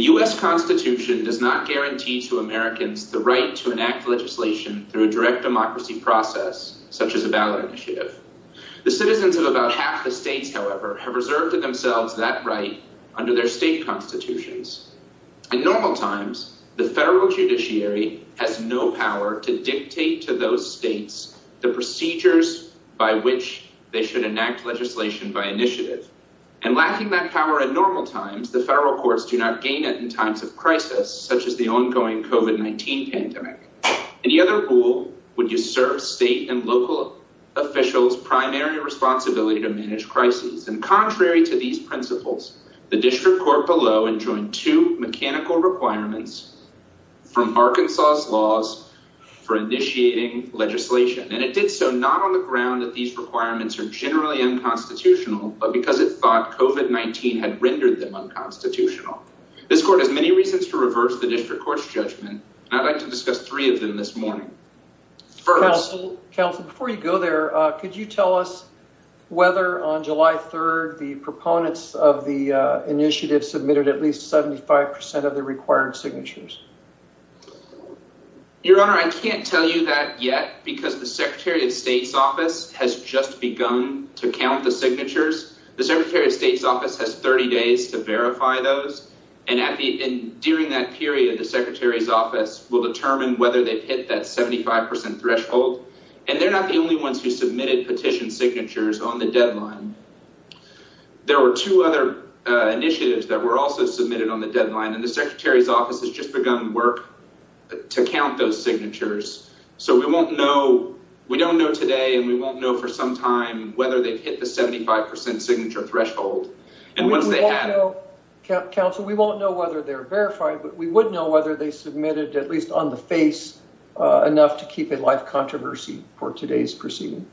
U.S. Constitution does not guarantee to Americans the right to enact legislation through a direct process. Citizens of about half the states, however, have reserved to themselves that right under their state constitutions. In normal times, the federal judiciary has no power to dictate to those states the procedures by which they should enact legislation by initiative, and lacking that power in normal times, the federal courts do not gain it in times of crisis, such as the ongoing COVID-19 pandemic. Any other rule would usurp state and local officials' primary responsibility to manage crises. And contrary to these principles, the district court below enjoined two mechanical requirements from Arkansas's laws for initiating legislation. And it did so not on the ground that these requirements are generally unconstitutional, but because it thought COVID-19 had rendered them unconstitutional. This court has many reasons to reverse the district court's judgment, and I'd like to discuss three of them this morning. First... Counsel, before you go there, could you tell us whether on July 3rd the proponents of the initiative submitted at least 75% of the required signatures? Your Honor, I can't tell you that yet, because the Secretary of State's office has just begun to count the signatures. The Secretary of State's office has 30 days to verify those. And during that period, the Secretary's office will determine whether they've hit that 75% threshold. And they're not the only ones who submitted petition signatures on the deadline. There were two other initiatives that were also submitted on the deadline, and the Secretary's office has just begun work to count those signatures. So we don't know today, and we won't know for some time, whether they've hit the 75% signature threshold. Counsel, we won't know whether they're verified, but we would know whether they submitted, at least on the face, enough to keep a live controversy for today's proceeding.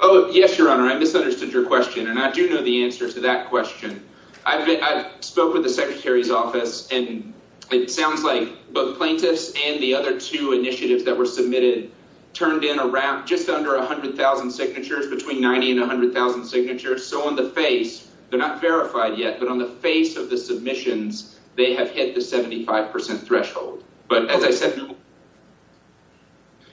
Oh, yes, Your Honor. I misunderstood your question, and I do know the answer to that question. I spoke with the Secretary's office, and it sounds like both plaintiffs and the other two initiatives that were submitted turned in just under 100,000 signatures, between 90,000 and 100,000 signatures. So on the face, they're not verified yet, but on the face of the submissions, they have hit the 75% threshold. But as I said, no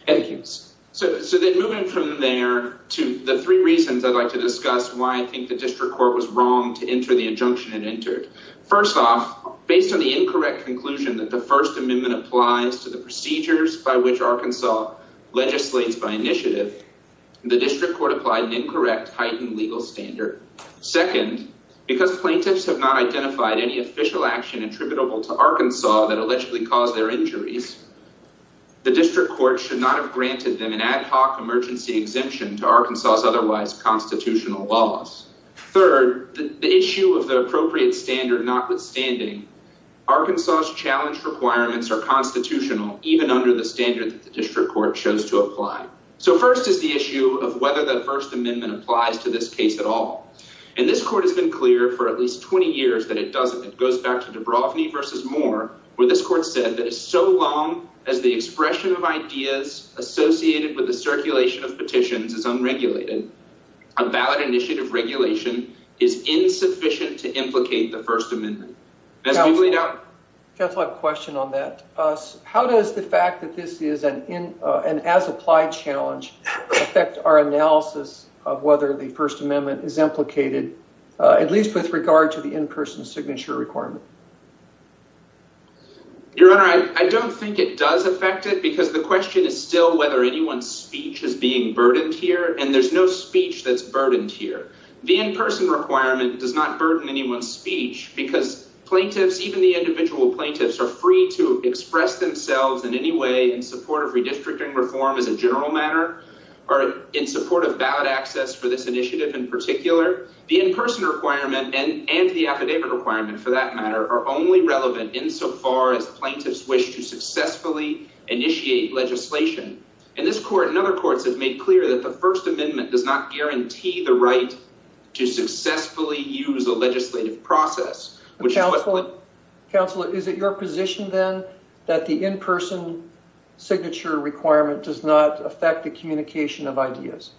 evidence. So then moving from there to the three reasons I'd like to discuss why I think the district court was wrong to enter the injunction it entered. First off, based on the incorrect conclusion that the First Amendment applies to the procedures by which Arkansas legislates by initiative, the district court applied an incorrect heightened legal standard. Second, because plaintiffs have not identified any official action attributable to Arkansas that allegedly caused their injuries, the district court should not have granted them an ad hoc emergency exemption to Arkansas's otherwise constitutional laws. Third, the issue of the appropriate standard notwithstanding, Arkansas's challenge requirements are constitutional, even under the standard that the district court chose to apply. So first is the issue of whether the First Amendment applies to this case at all. And this court has been clear for at least 20 years that it doesn't. It goes back to Dubrovni v. Moore, where this court said that it's so long as the expression of ideas associated with the circulation of petitions is unregulated, a valid initiative regulation is insufficient to implicate the First Amendment. Counsel, I have a question on that. How does the fact that this is an as-applied challenge affect our analysis of whether the First Amendment is implicated, at least with regard to the in-person signature requirement? Your Honor, I don't think it does affect it, because the question is still whether anyone's speech is being burdened here, and there's no speech that's burdened here. The in-person requirement does not burden anyone's speech, because plaintiffs, even the individual plaintiffs, are free to express themselves in any way in support of redistricting reform as a general matter, or in support of ballot access for this initiative in particular. The in-person requirement and the affidavit requirement, for that matter, are only relevant insofar as plaintiffs wish to successfully initiate legislation. And this court and other courts have made clear that the First Amendment does not guarantee the right to successfully use a legislative process. Counsel, is it your position, then, that the in-person signature requirement does not affect the communication of ideas?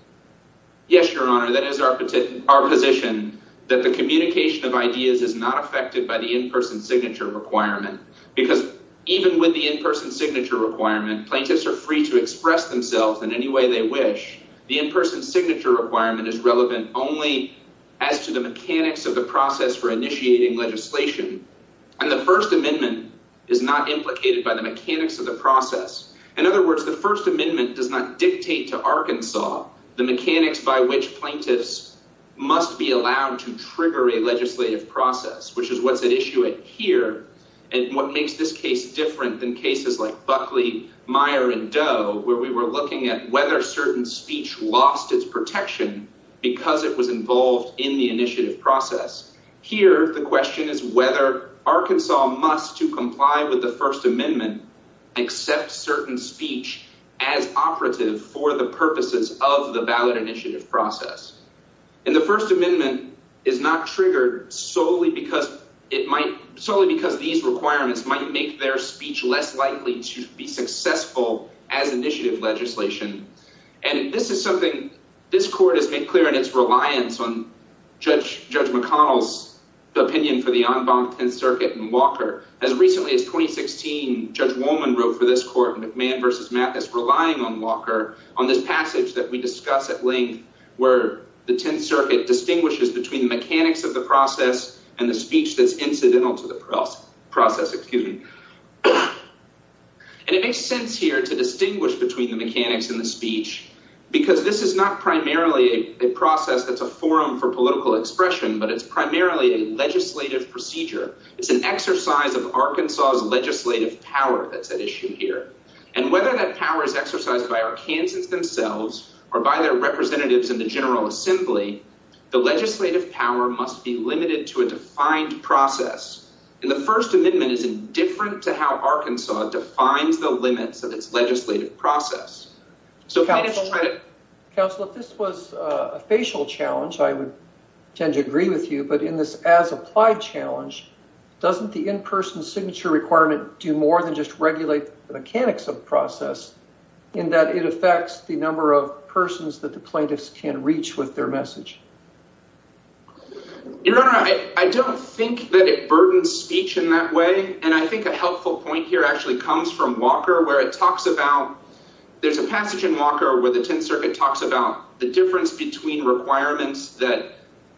Yes, Your Honor, that is our position, that the communication of ideas is not affected by the in-person signature requirement, because even with the in-person signature requirement, plaintiffs are free to express themselves in any way they wish. The in-person signature requirement is relevant only as to the mechanics of the process for initiating legislation, and the First Amendment is not implicated by the mechanics of the process. In other words, the First Amendment does not dictate to Arkansas the mechanics by which plaintiffs must be allowed to trigger a legislative process, which is what's at issue here, and what makes this case different than cases like Buckley, Meyer, and Doe, where we were looking at whether certain speech lost its protection because it was involved in the initiative process. Here, the question is whether Arkansas must, to comply with the First Amendment, accept certain speech as operative for the purposes of the ballot initiative process. And the First Amendment is not triggered solely because these requirements might make their speech less likely to be successful as initiative legislation, and this is something this Court has made clear in its reliance on Judge McConnell's opinion for the en banc Tenth Circuit and Walker. As recently as 2016, Judge Wolman wrote for this Court in McMahon v. Mathis, relying on Walker on this passage that we discuss at length, where the Tenth Circuit distinguishes between the mechanics of the process and the speech that's incidental to the process. And it makes sense here to distinguish between the mechanics and the speech because this is not primarily a process that's a forum for political expression, but it's primarily a legislative procedure. It's an exercise of Arkansas's legislative power that's at issue here. And whether that power is exercised by Arkansans themselves or by their representatives in the General Assembly, the legislative power must be limited to a defined process. And the First Amendment is indifferent to how Arkansas defines the limits of its legislative process. So if this was a facial challenge, I would tend to agree with you. But in this as-applied challenge, doesn't the in-person signature requirement do more than just regulate the mechanics of the process in that it affects the number of persons that the plaintiffs can reach with their message? Your Honor, I don't think that it burdens speech in that way. And I think a helpful point here actually comes from Walker, where it talks about – there's a passage in Walker where the Tenth Circuit talks about the difference between requirements that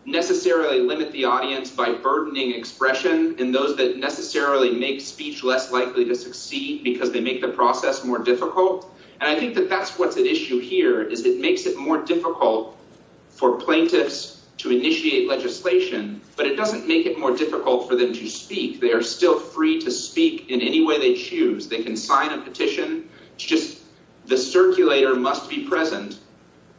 necessarily limit the audience by burdening expression and those that necessarily make speech less likely to succeed because they make the process more difficult. And I think that that's what's at issue here, is it makes it more difficult for plaintiffs to initiate legislation, but it doesn't make it more difficult for them to speak. They are still free to speak in any way they choose. They can sign a petition. It's just the circulator must be present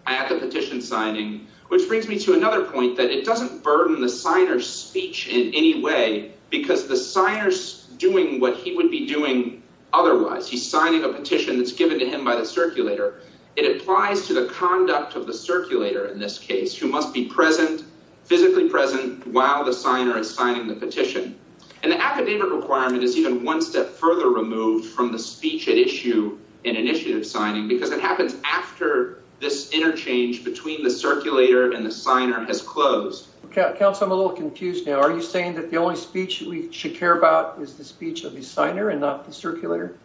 at the petition signing. Which brings me to another point, that it doesn't burden the signer's speech in any way because the signer's doing what he would be doing otherwise. He's signing a petition that's given to him by the circulator. It applies to the conduct of the circulator in this case, who must be present, physically present, while the signer is signing the petition. And the academic requirement is even one step further removed from the speech at issue in initiative signing because it happens after this interchange between the circulator and the signer has closed. Counsel, I'm a little confused now. Are you saying that the only speech we should care about is the speech of the signer and not the circulator?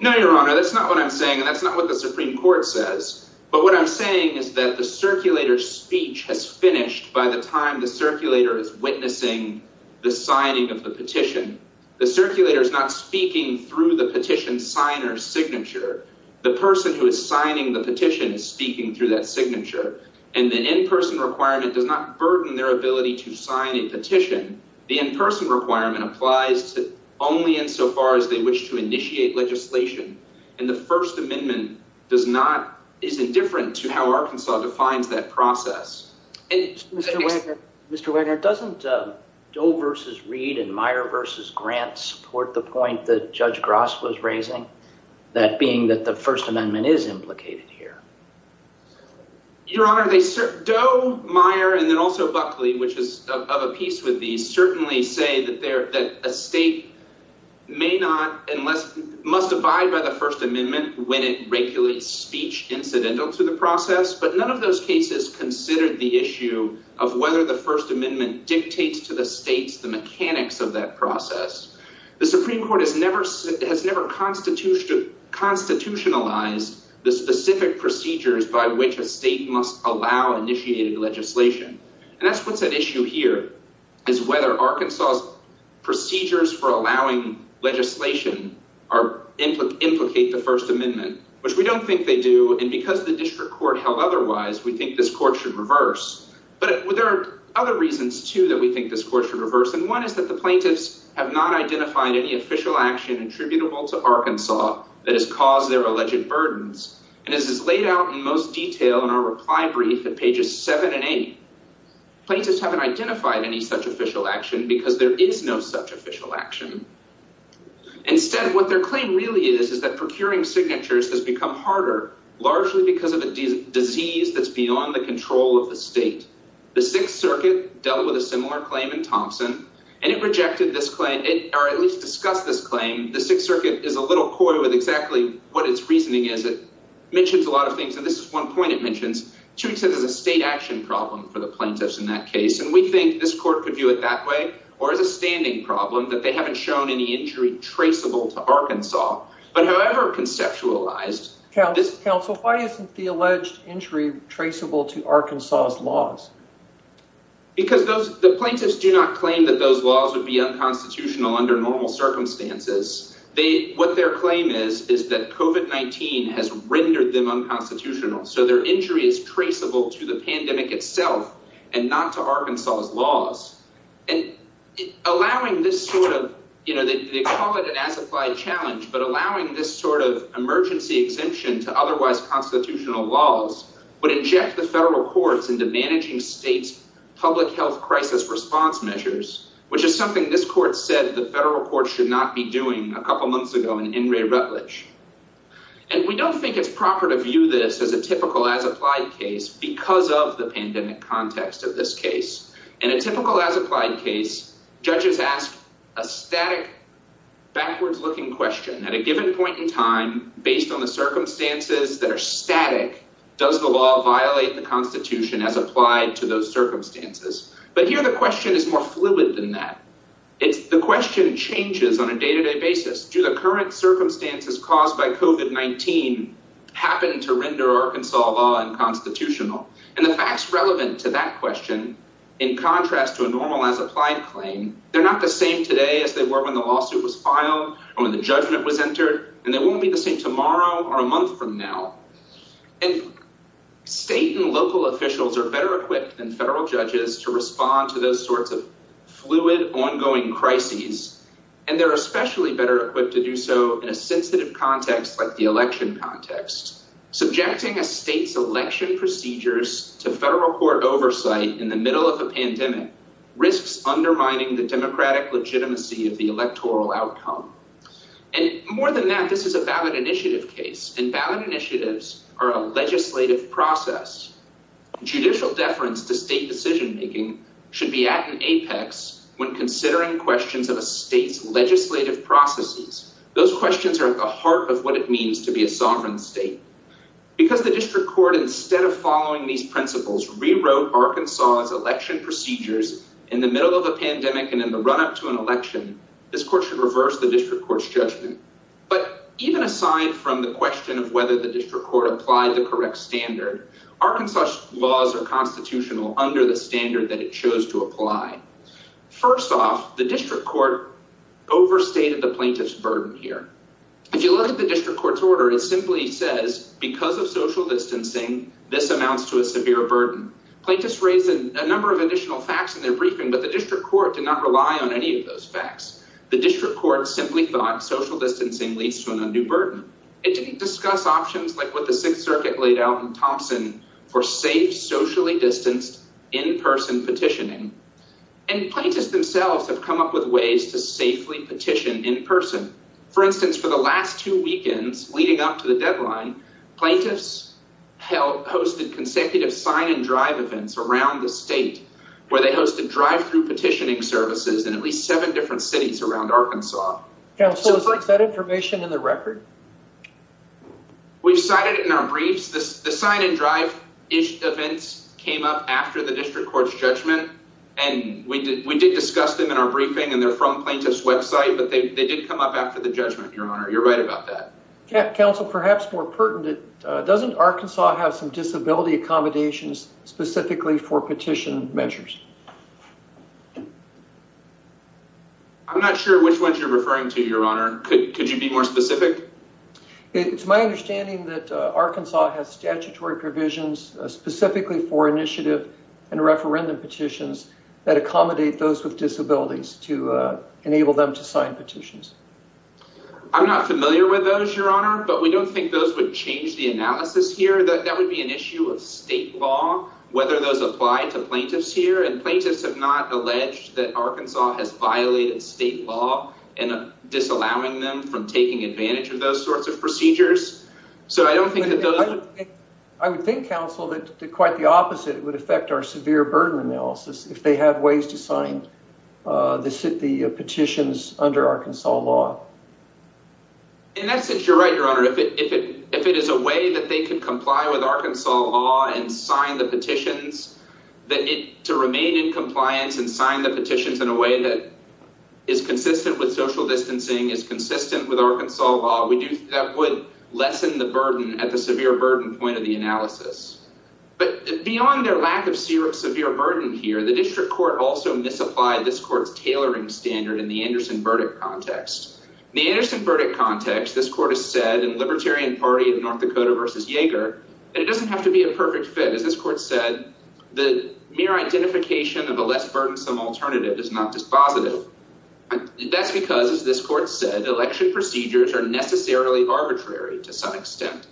No, Your Honor. That's not what I'm saying, and that's not what the Supreme Court says. But what I'm saying is that the circulator's speech has finished by the time the circulator is witnessing the signing of the petition. The circulator is not speaking through the petition signer's signature. The person who is signing the petition is speaking through that signature. And the in-person requirement does not burden their ability to sign a petition. The in-person requirement applies only insofar as they wish to initiate legislation. And the First Amendment is indifferent to how Arkansas defines that process. Mr. Wagner, doesn't Doe v. Reed and Meyer v. Grant support the point that Judge Gross was raising, that being that the First Amendment is implicated here? Your Honor, Doe, Meyer, and then also Buckley, which is of a piece with these, certainly say that a state must abide by the First Amendment when it regulates speech incidental to the process. But none of those cases considered the issue of whether the First Amendment dictates to the states the mechanics of that process. The Supreme Court has never constitutionalized the specific procedures by which a state must allow initiated legislation. And that's what's at issue here, is whether Arkansas's procedures for allowing legislation implicate the First Amendment, which we don't think they do. And because the district court held otherwise, we think this court should reverse. But there are other reasons, too, that we think this court should reverse. And one is that the plaintiffs have not identified any official action attributable to Arkansas that has caused their alleged burdens. And this is laid out in most detail in our reply brief at pages seven and eight. Plaintiffs haven't identified any such official action because there is no such official action. Instead, what their claim really is, is that procuring signatures has become harder, largely because of a disease that's beyond the control of the state. The Sixth Circuit dealt with a similar claim in Thompson, and it rejected this claim, or at least discussed this claim. The Sixth Circuit is a little coy with exactly what its reasoning is. It mentions a lot of things, and this is one point it mentions. Two, it says there's a state action problem for the plaintiffs in that case. And we think this court could view it that way or as a standing problem that they haven't shown any injury traceable to Arkansas. But however conceptualized... Counsel, why isn't the alleged injury traceable to Arkansas's laws? Because the plaintiffs do not claim that those laws would be unconstitutional under normal circumstances. What their claim is, is that COVID-19 has rendered them unconstitutional. So their injury is traceable to the pandemic itself and not to Arkansas's laws. And allowing this sort of... You know, they call it an as-applied challenge, but allowing this sort of emergency exemption to otherwise constitutional laws would inject the federal courts into managing states' public health crisis response measures, which is something this court said the federal courts should not be doing a couple months ago in In re Rutledge. And we don't think it's proper to view this as a typical as-applied case because of the pandemic context of this case. In a typical as-applied case, judges ask a static, backwards-looking question. At a given point in time, based on the circumstances that are static, does the law violate the Constitution as applied to those circumstances? But here the question is more fluid than that. It's the question changes on a day-to-day basis. Do the current circumstances caused by COVID-19 happen to render Arkansas law unconstitutional? And the facts relevant to that question, in contrast to a normal as-applied claim, they're not the same today as they were when the lawsuit was filed or when the judgment was entered. And they won't be the same tomorrow or a month from now. And state and local officials are better equipped than federal judges to respond to those sorts of fluid, ongoing crises. And they're especially better equipped to do so in a sensitive context like the election context. Subjecting a state's election procedures to federal court oversight in the middle of a pandemic risks undermining the democratic legitimacy of the electoral outcome. And more than that, this is a ballot initiative case. And ballot initiatives are a legislative process. Judicial deference to state decision-making should be at an apex when considering questions of a state's legislative processes. Those questions are at the heart of what it means to be a sovereign state. Because the district court, instead of following these principles, rewrote Arkansas's election procedures in the middle of a pandemic and in the run-up to an election, this court should reverse the district court's judgment. But even aside from the question of whether the district court applied the correct standard, Arkansas's laws are constitutional under the standard that it chose to apply. First off, the district court overstated the plaintiff's burden here. If you look at the district court's order, it simply says, because of social distancing, this amounts to a severe burden. Plaintiffs raised a number of additional facts in their briefing, but the district court did not rely on any of those facts. The district court simply thought social distancing leads to an undue burden. It didn't discuss options like what the Sixth Circuit laid out in Thompson for safe, socially distanced, in-person petitioning. And plaintiffs themselves have come up with ways to safely petition in person. For instance, for the last two weekends leading up to the deadline, plaintiffs hosted consecutive sign-and-drive events around the state, where they hosted drive-through petitioning services in at least seven different cities around Arkansas. Counsel, is that information in the record? We've cited it in our briefs. The sign-and-drive-ish events came up after the district court's judgment, and we did discuss them in our briefing, and they're from plaintiff's website. But they did come up after the judgment, Your Honor. You're right about that. Counsel, perhaps more pertinent, doesn't Arkansas have some disability accommodations specifically for petition measures? I'm not sure which ones you're referring to, Your Honor. Could you be more specific? It's my understanding that Arkansas has statutory provisions specifically for initiative and referendum petitions that accommodate those with disabilities to enable them to sign petitions. I'm not familiar with those, Your Honor, but we don't think those would change the analysis here. That would be an issue of state law, whether those apply to plaintiffs here. And plaintiffs have not alleged that Arkansas has violated state law in disallowing them from taking advantage of those sorts of procedures. I would think, Counsel, that quite the opposite would affect our severe burden analysis if they had ways to sign the petitions under Arkansas law. In that sense, you're right, Your Honor. If it is a way that they could comply with Arkansas law and sign the petitions, to remain in compliance and sign the petitions in a way that is consistent with social distancing, is consistent with Arkansas law, that would lessen the burden at the severe burden point of the analysis. But beyond their lack of severe burden here, the district court also misapplied this court's tailoring standard in the Anderson verdict context. In the Anderson verdict context, this court has said in Libertarian Party of North Dakota v. Yaeger that it doesn't have to be a perfect fit. As this court said, the mere identification of a less burdensome alternative is not dispositive. That's because, as this court said, election procedures are necessarily arbitrary to some extent.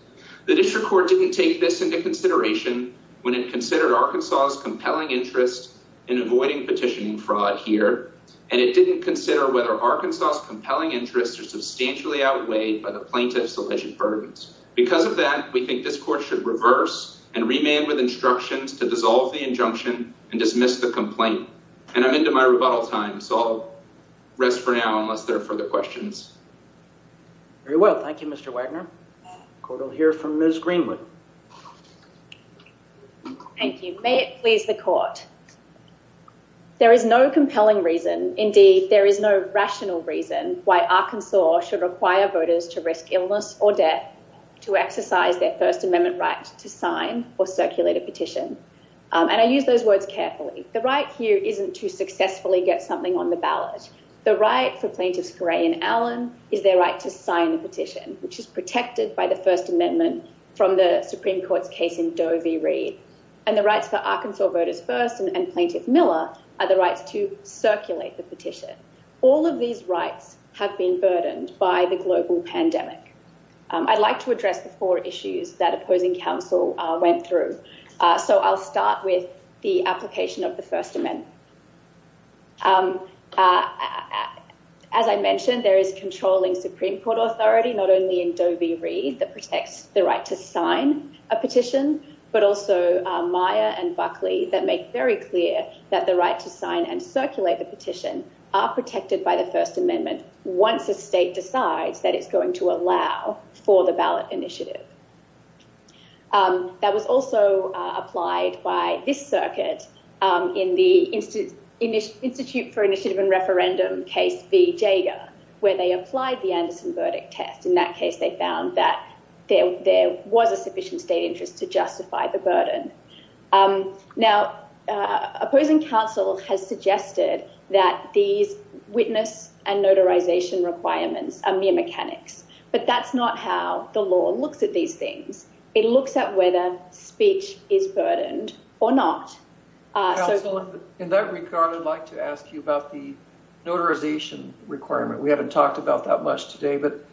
The district court didn't take this into consideration when it considered Arkansas's compelling interest in avoiding petitioning fraud here, and it didn't consider whether Arkansas's compelling interests are substantially outweighed by the plaintiff's alleged burdens. Because of that, we think this court should reverse and remand with instructions to dissolve the injunction and dismiss the complaint. And I'm into my rebuttal time, so I'll rest for now unless there are further questions. Very well. Thank you, Mr. Wagner. The court will hear from Ms. Greenwood. Thank you. May it please the court. There is no compelling reason, indeed there is no rational reason, why Arkansas should require voters to risk illness or death to exercise their First Amendment right to sign or circulate a petition. And I use those words carefully. The right here isn't to successfully get something on the ballot. The right for plaintiffs Gray and Allen is their right to sign the petition, which is protected by the First Amendment from the Supreme Court's case in Doe v. Reed. And the rights for Arkansas voters first and Plaintiff Miller are the rights to circulate the petition. All of these rights have been burdened by the global pandemic. I'd like to address the four issues that opposing counsel went through. So I'll start with the application of the First Amendment. As I mentioned, there is controlling Supreme Court authority, not only in Doe v. Reed that protects the right to sign a petition, but also Meyer and Buckley that make very clear that the right to sign and circulate the petition are protected by the First Amendment. Once the state decides that it's going to allow for the ballot initiative. That was also applied by this circuit in the Institute for Initiative and Referendum case v. Jager, where they applied the Anderson verdict test. In that case, they found that there was a sufficient state interest to justify the burden. Now, opposing counsel has suggested that these witness and notarization requirements are mere mechanics. But that's not how the law looks at these things. It looks at whether speech is burdened or not. So in that regard, I'd like to ask you about the notarization requirement. We haven't talked about that much today. But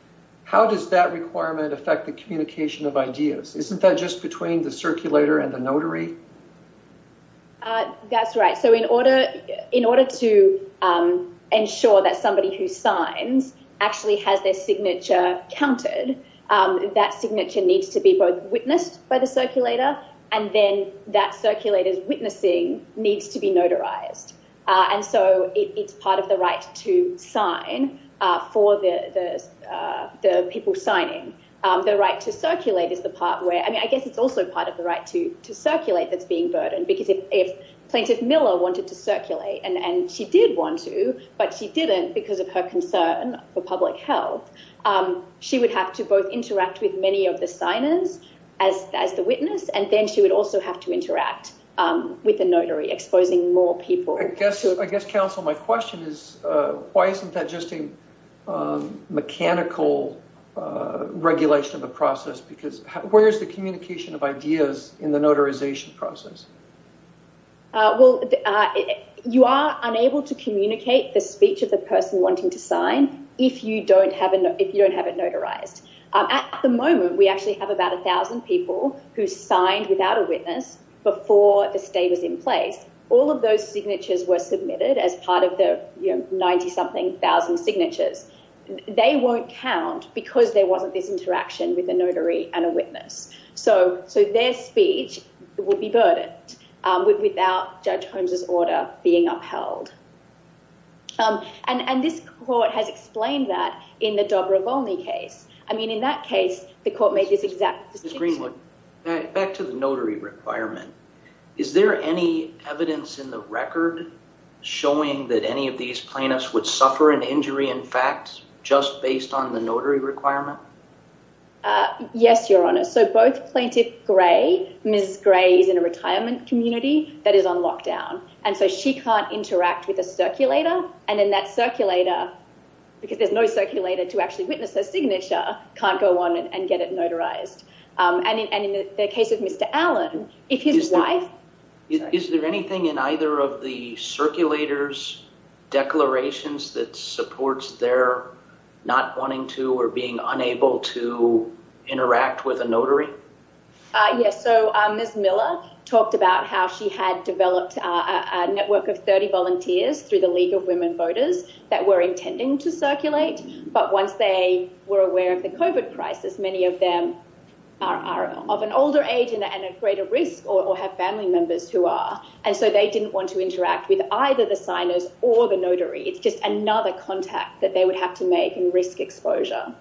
how does that requirement affect the communication of ideas? Isn't that just between the circulator and the notary? That's right. So in order to ensure that somebody who signs actually has their signature counted, that signature needs to be both witnessed by the circulator and then that circulator's witnessing needs to be notarized. And so it's part of the right to sign for the people signing. The right to circulate is the part where I mean, I guess it's also part of the right to circulate that's being burdened. Because if Plaintiff Miller wanted to circulate and she did want to, but she didn't because of her concern for public health, she would have to both interact with many of the signers as the witness. And then she would also have to interact with the notary exposing more people. So I guess, I guess, counsel, my question is, why isn't that just a mechanical regulation of the process? Because where is the communication of ideas in the notarization process? Well, you are unable to communicate the speech of the person wanting to sign if you don't have it notarized. At the moment, we actually have about a thousand people who signed without a witness before the stay was in place. All of those signatures were submitted as part of the 90-something thousand signatures. They won't count because there wasn't this interaction with the notary and a witness. So their speech would be burdened without Judge Holmes' order being upheld. And this court has explained that in the Dobre-Volny case. I mean, in that case, the court made this exact decision. Ms. Greenwood, back to the notary requirement. Is there any evidence in the record showing that any of these plaintiffs would suffer an injury, in fact, just based on the notary requirement? Yes, Your Honor. So both Plaintiff Gray, Ms. Gray is in a retirement community that is on lockdown. And so she can't interact with a circulator. And then that circulator, because there's no circulator to actually witness her signature, can't go on and get it notarized. And in the case of Mr. Allen, if his wife. Is there anything in either of the circulator's declarations that supports their not wanting to or being unable to interact with a notary? Yes. So Ms. Miller talked about how she had developed a network of 30 volunteers through the League of Women Voters that were intending to circulate. But once they were aware of the COVID crisis, many of them are of an older age and at greater risk or have family members who are. And so they didn't want to interact with either the signers or the notary. It's just another contact that they would have to make and risk exposure.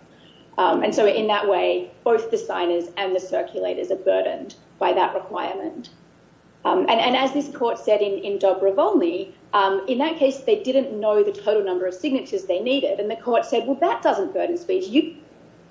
And so in that way, both the signers and the circulators are burdened by that requirement. And as this court said in Dobrovolny, in that case, they didn't know the total number of signatures they needed. And the court said, well, that doesn't burden speech. You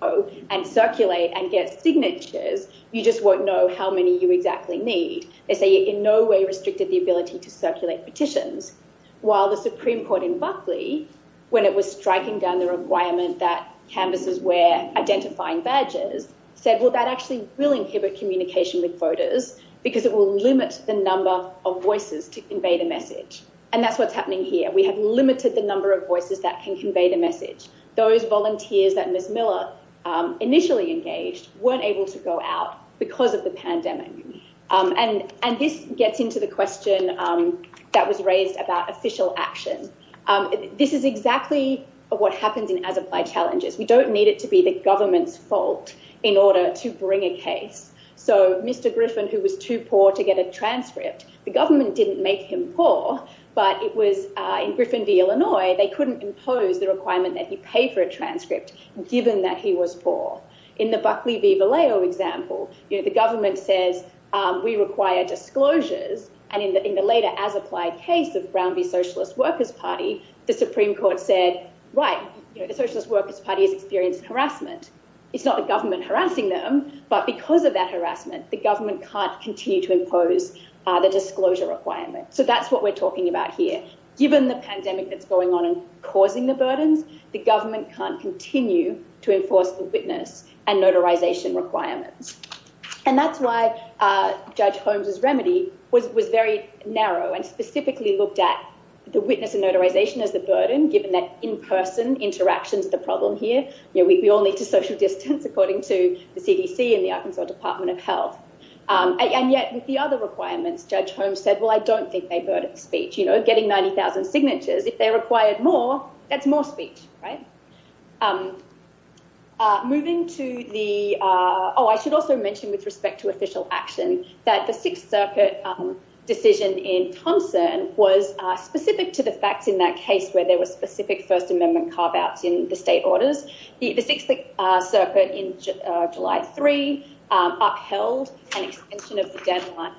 go and circulate and get signatures. You just won't know how many you exactly need. They say in no way restricted the ability to circulate petitions. While the Supreme Court in Buckley, when it was striking down the requirement that canvases were identifying badges, said, well, that actually will inhibit communication with voters because it will limit the number of voices to convey the message. And that's what's happening here. We have limited the number of voices that can convey the message. Those volunteers that Ms. Miller initially engaged weren't able to go out because of the pandemic. And this gets into the question that was raised about official action. This is exactly what happens in As Applied Challenges. We don't need it to be the government's fault in order to bring a case. So Mr. Griffin, who was too poor to get a transcript, the government didn't make him poor, but it was in Griffin v. Illinois. They couldn't impose the requirement that you pay for a transcript given that he was poor. In the Buckley v. Vallejo example, the government says we require disclosures. And in the later As Applied case of Brown v. Socialist Workers Party, the Supreme Court said, right, the Socialist Workers Party has experienced harassment. It's not the government harassing them, but because of that harassment, the government can't continue to impose the disclosure requirement. So that's what we're talking about here. Given the pandemic that's going on and causing the burdens, the government can't continue to enforce the witness and notarization requirements. And that's why Judge Holmes' remedy was very narrow and specifically looked at the witness and notarization as the burden, given that in-person interaction is the problem here. We all need to social distance, according to the CDC and the Arkansas Department of Health. And yet with the other requirements, Judge Holmes said, well, I don't think they burdened speech, you know, getting 90,000 signatures. If they required more, that's more speech. Right. Moving to the oh, I should also mention with respect to official action that the Sixth Circuit decision in Thompson was specific to the facts in that case where there was specific First Amendment carve outs in the state orders. The Sixth Circuit in July 3 upheld an extension of the deadline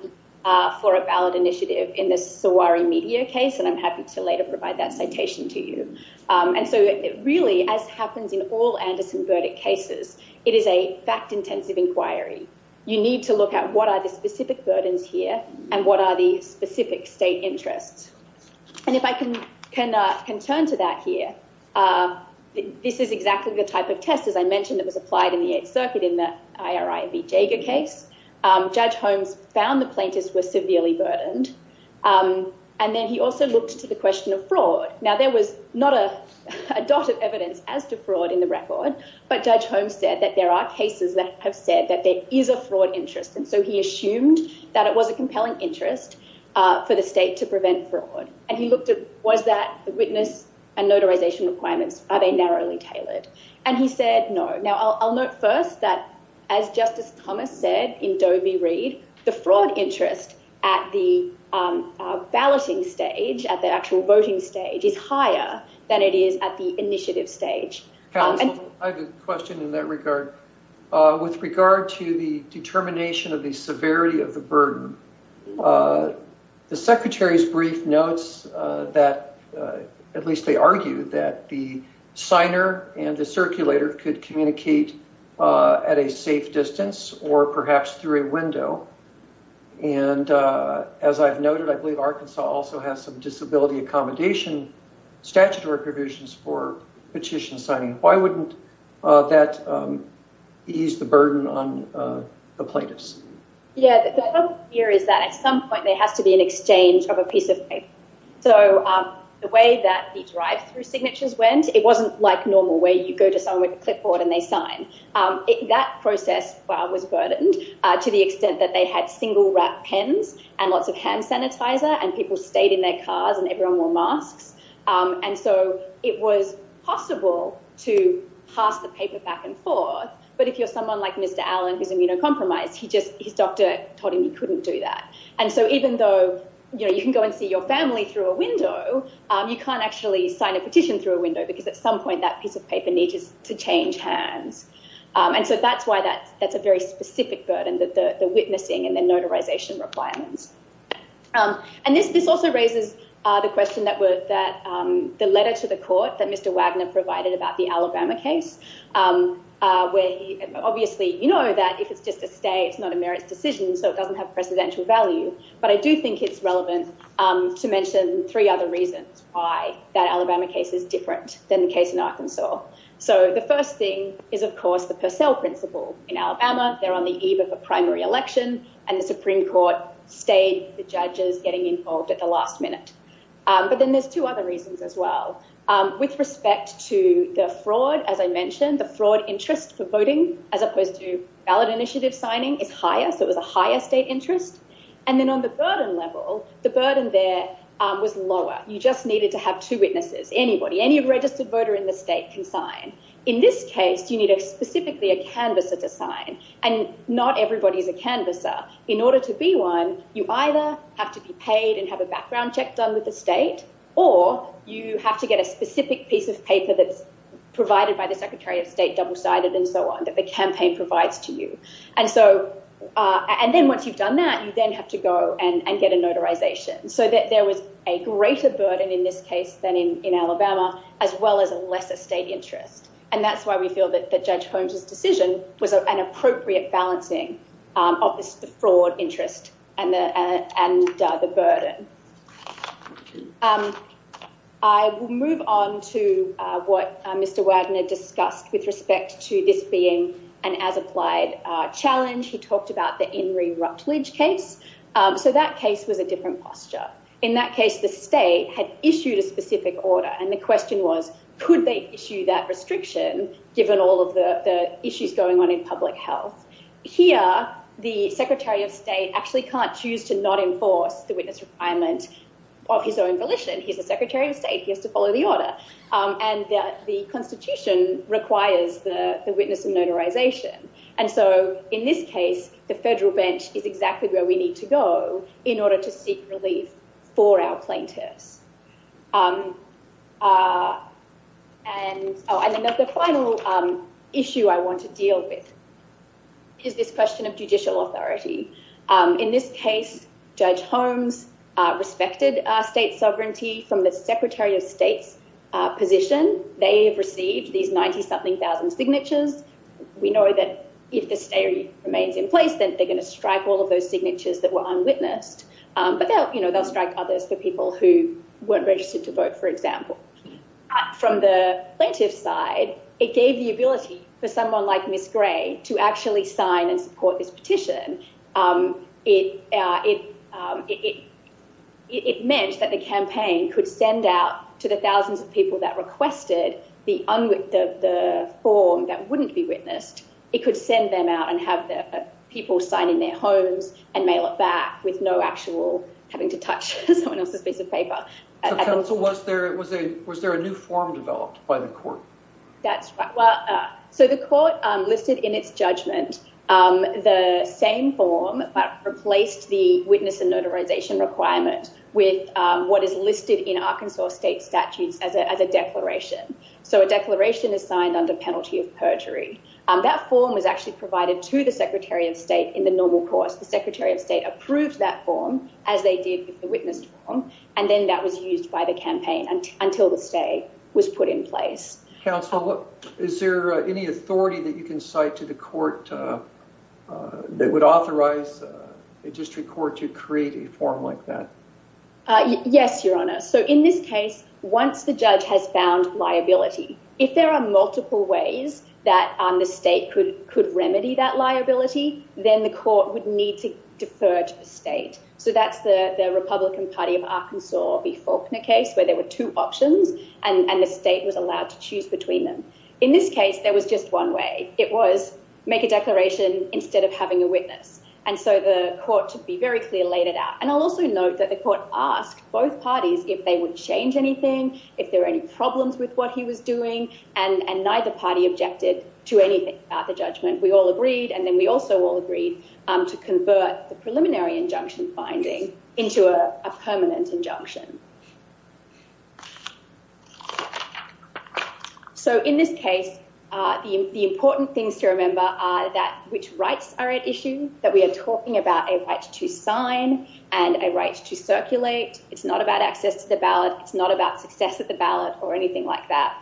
for a ballot initiative in the SOWARI media case. And I'm happy to later provide that citation to you. And so it really, as happens in all Anderson verdict cases, it is a fact intensive inquiry. You need to look at what are the specific burdens here and what are the specific state interests. And if I can turn to that here, this is exactly the type of test, as I mentioned, that was applied in the Eighth Circuit in the IRIB Jager case. Judge Holmes found the plaintiffs were severely burdened. And then he also looked to the question of fraud. Now, there was not a dot of evidence as to fraud in the record, but Judge Holmes said that there are cases that have said that there is a fraud interest. And so he assumed that it was a compelling interest for the state to prevent fraud. And he looked at was that the witness and notarization requirements, are they narrowly tailored? And he said no. Now, I'll note first that, as Justice Thomas said in Doe v. Reed, the fraud interest at the balloting stage, at the actual voting stage, is higher than it is at the initiative stage. I have a question in that regard. With regard to the determination of the severity of the burden, the secretary's brief notes that at least they argued that the signer and the circulator could communicate at a safe distance or perhaps through a window. And as I've noted, I believe Arkansas also has some disability accommodation statutory provisions for petition signing. Why wouldn't that ease the burden on the plaintiffs? Yeah, the problem here is that at some point there has to be an exchange of a piece of paper. So the way that the drive-through signatures went, it wasn't like normal where you go to someone with a clipboard and they sign. That process was burdened to the extent that they had single-wrapped pens and lots of hand sanitizer and people stayed in their cars and everyone wore masks. And so it was possible to pass the paper back and forth. But if you're someone like Mr. Allen, who's immunocompromised, his doctor told him he couldn't do that. And so even though you can go and see your family through a window, you can't actually sign a petition through a window because at some point that piece of paper needs to change hands. And so that's why that's a very specific burden, the witnessing and the notarization requirements. And this also raises the question that the letter to the court that Mr. Wagner provided about the Alabama case, where obviously you know that if it's just a stay, it's not a merits decision, so it doesn't have precedential value. But I do think it's relevant to mention three other reasons why that Alabama case is different than the case in Arkansas. So the first thing is, of course, the Purcell principle in Alabama. They're on the eve of a primary election and the Supreme Court stayed. The judge is getting involved at the last minute. But then there's two other reasons as well. With respect to the fraud, as I mentioned, the fraud interest for voting as opposed to ballot initiative signing is higher. So it was a higher state interest. And then on the burden level, the burden there was lower. You just needed to have two witnesses, anybody, any registered voter in the state can sign. In this case, you need a specifically a canvasser to sign. And not everybody is a canvasser. In order to be one, you either have to be paid and have a background check done with the state, or you have to get a specific piece of paper that's provided by the secretary of state, double sided and so on, that the campaign provides to you. And so and then once you've done that, you then have to go and get a notarization. So that there was a greater burden in this case than in Alabama, as well as a lesser state interest. And that's why we feel that Judge Holmes's decision was an appropriate balancing of the fraud interest and the burden. I will move on to what Mr. Wadner discussed with respect to this being an as applied challenge. He talked about the In re Rutledge case. So that case was a different posture. In that case, the state had issued a specific order. And the question was, could they issue that restriction? Given all of the issues going on in public health here, the secretary of state actually can't choose to not enforce the witness requirement of his own volition. He's the secretary of state. He has to follow the order. And the Constitution requires the witness and notarization. And so in this case, the federal bench is exactly where we need to go in order to seek relief for our plaintiffs. And the final issue I want to deal with is this question of judicial authority. In this case, Judge Holmes respected state sovereignty from the secretary of state's position. They have received these 90 something thousand signatures. We know that if the state remains in place, then they're going to strike all of those signatures that were unwitnessed. But, you know, they'll strike others for people who weren't registered to vote, for example. From the plaintiff's side, it gave the ability for someone like Miss Gray to actually sign and support this petition. It meant that the campaign could send out to the thousands of people that requested the form that wouldn't be witnessed. It could send them out and have people sign in their homes and mail it back with no actual having to touch someone else's piece of paper. So was there a new form developed by the court? That's right. So the court listed in its judgment the same form, but replaced the witness and notarization requirement with what is listed in Arkansas state statutes as a declaration. So a declaration is signed under penalty of perjury. That form was actually provided to the secretary of state in the normal course. The secretary of state approved that form, as they did with the witness form, and then that was used by the campaign until the stay was put in place. Counsel, is there any authority that you can cite to the court that would authorize a district court to create a form like that? Yes, Your Honor. So in this case, once the judge has found liability, if there are multiple ways that the state could remedy that liability, then the court would need to defer to the state. So that's the Republican Party of Arkansas v. Faulkner case where there were two options and the state was allowed to choose between them. In this case, there was just one way. It was make a declaration instead of having a witness. And so the court, to be very clear, laid it out. And I'll also note that the court asked both parties if they would change anything, if there were any problems with what he was doing, and neither party objected to anything about the judgment. We all agreed. And then we also all agreed to convert the preliminary injunction finding into a permanent injunction. So in this case, the important things to remember are that which rights are at issue, that we are talking about a right to sign and a right to circulate. It's not about access to the ballot. It's not about success at the ballot or anything like that.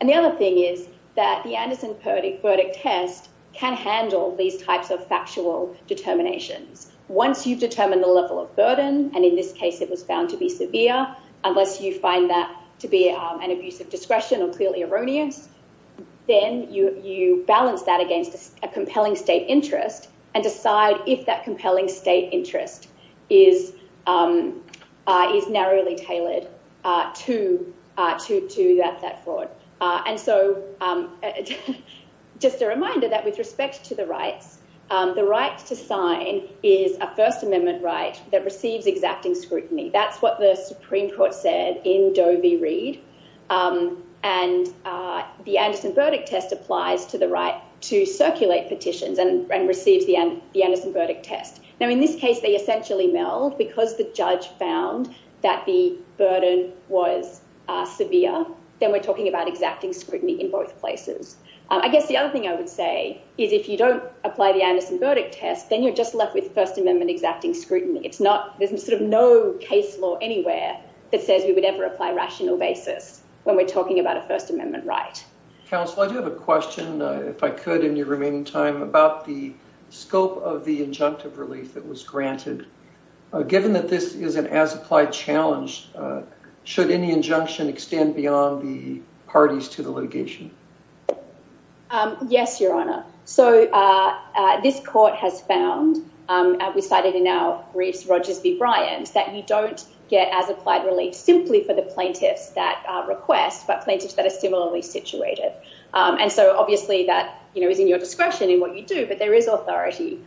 And the other thing is that the Anderson verdict test can handle these types of factual determinations. Once you've determined the level of burden, and in this case it was found to be severe, unless you find that to be an abuse of discretion or clearly erroneous, then you balance that against a compelling state interest and decide if that compelling state interest is narrowly tailored to that fraud. And so just a reminder that with respect to the rights, the right to sign is a First Amendment right that receives exacting scrutiny. That's what the Supreme Court said in Doe v. Reed. And the Anderson verdict test applies to the right to circulate petitions and receives the Anderson verdict test. Now, in this case, they essentially meld because the judge found that the burden was severe. Then we're talking about exacting scrutiny in both places. I guess the other thing I would say is if you don't apply the Anderson verdict test, then you're just left with First Amendment exacting scrutiny. There's sort of no case law anywhere that says we would ever apply rational basis when we're talking about a First Amendment right. Counsel, I do have a question, if I could, in your remaining time, about the scope of the injunctive relief that was granted. Given that this is an as-applied challenge, should any injunction extend beyond the parties to the litigation? Yes, Your Honor. So this court has found, as we cited in our briefs, Rogers v. Bryant, that you don't get as-applied relief simply for the plaintiffs that request, but plaintiffs that are similarly situated. And so, obviously, that is in your discretion in what you do. But there is authority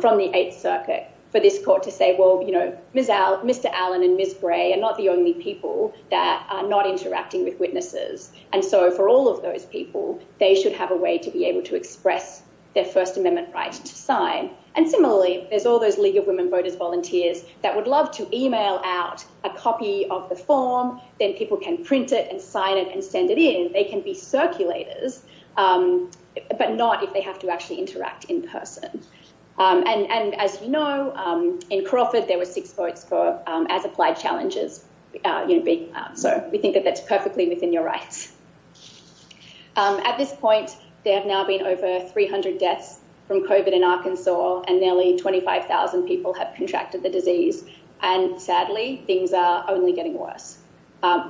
from the Eighth Circuit for this court to say, well, you know, Mr. Allen and Ms. Gray are not the only people that are not interacting with witnesses. And so for all of those people, they should have a way to be able to express their First Amendment right to sign. And similarly, there's all those League of Women Voters volunteers that would love to email out a copy of the form. Then people can print it and sign it and send it in. They can be circulators, but not if they have to actually interact in person. And as you know, in Crawford, there were six votes for as-applied challenges. So we think that that's perfectly within your rights. At this point, there have now been over 300 deaths from COVID in Arkansas and nearly 25,000 people have contracted the disease. And sadly, things are only getting worse.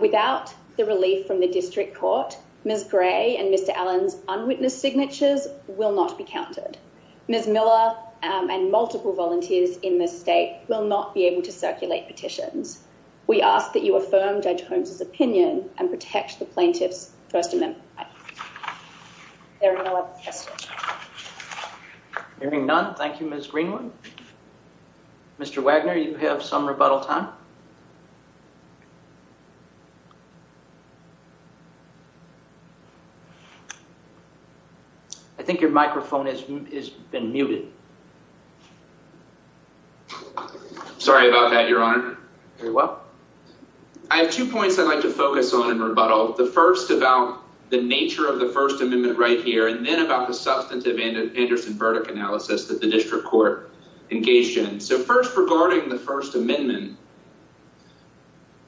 Without the relief from the district court, Ms. Gray and Mr. Allen's unwitnessed signatures will not be counted. Ms. Miller and multiple volunteers in this state will not be able to circulate petitions. We ask that you affirm Judge Holmes' opinion and protect the plaintiff's First Amendment rights. Are there any other questions? Hearing none, thank you, Ms. Greenwood. Mr. Wagner, you have some rebuttal time. I think your microphone has been muted. Sorry about that, Your Honor. Very well. I have two points I'd like to focus on in rebuttal. The first about the nature of the First Amendment right here and then about the substantive Anderson verdict analysis that the district court engaged in. So first, regarding the First Amendment,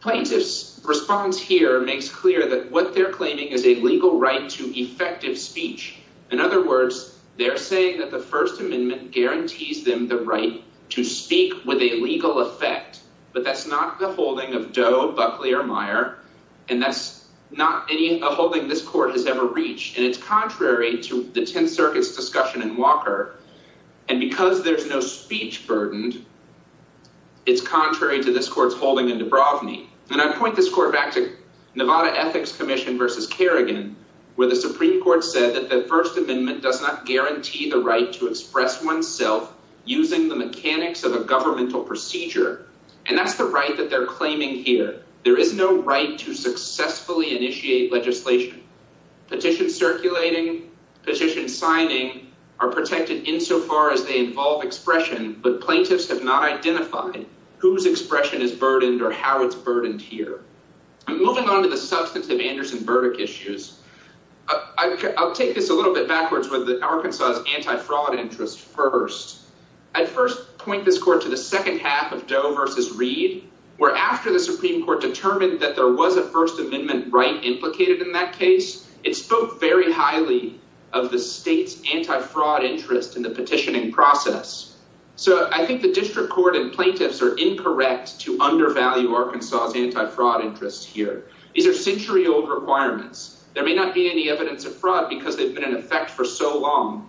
plaintiff's response here makes clear that what they're claiming is a legal right to effective speech. In other words, they're saying that the First Amendment guarantees them the right to speak with a legal effect. But that's not the holding of Doe, Buckley or Meyer. And that's not any holding this court has ever reached. And it's contrary to the 10th Circuit's discussion in Walker. And because there's no speech burdened, it's contrary to this court's holding in Dubrovni. And I point this court back to Nevada Ethics Commission versus Kerrigan, where the Supreme Court said that the First Amendment does not guarantee the right to express oneself using the mechanics of a governmental procedure. And that's the right that they're claiming here. There is no right to successfully initiate legislation. Petition circulating petition signing are protected insofar as they involve expression. But plaintiffs have not identified whose expression is burdened or how it's burdened here. Moving on to the substantive Anderson verdict issues. I'll take this a little bit backwards with the Arkansas anti-fraud interest. I first point this court to the second half of Doe versus Reed, where after the Supreme Court determined that there was a First Amendment right implicated in that case, it spoke very highly of the state's anti-fraud interest in the petitioning process. So I think the district court and plaintiffs are incorrect to undervalue Arkansas's anti-fraud interest here. These are century old requirements. There may not be any evidence of fraud because they've been in effect for so long.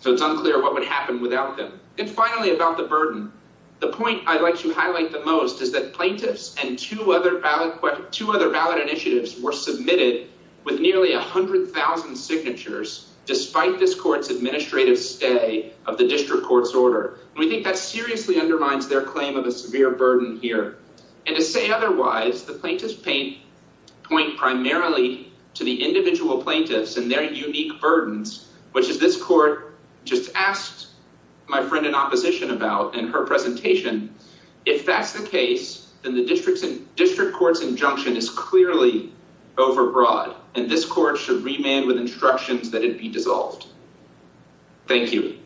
So it's unclear what would happen without them. And finally, about the burden. The point I'd like to highlight the most is that plaintiffs and two other ballot initiatives were submitted with nearly 100,000 signatures, despite this court's administrative stay of the district court's order. We think that seriously undermines their claim of a severe burden here. And to say otherwise, the plaintiffs point primarily to the individual plaintiffs and their unique burdens, which is this court just asked my friend in opposition about in her presentation. If that's the case, then the district court's injunction is clearly overbroad, and this court should remand with instructions that it be dissolved. Thank you.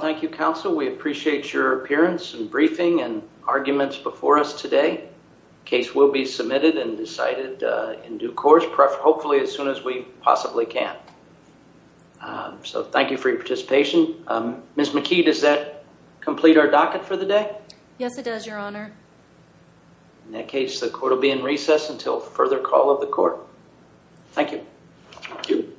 Thank you, counsel. We appreciate your appearance and briefing and arguments before us today. The case will be submitted and decided in due course, hopefully as soon as we possibly can. So thank you for your participation. Ms. McKee, does that complete our docket for the day? Yes, it does, your honor. In that case, the court will be in recess until further call of the court. Thank you. Thank you.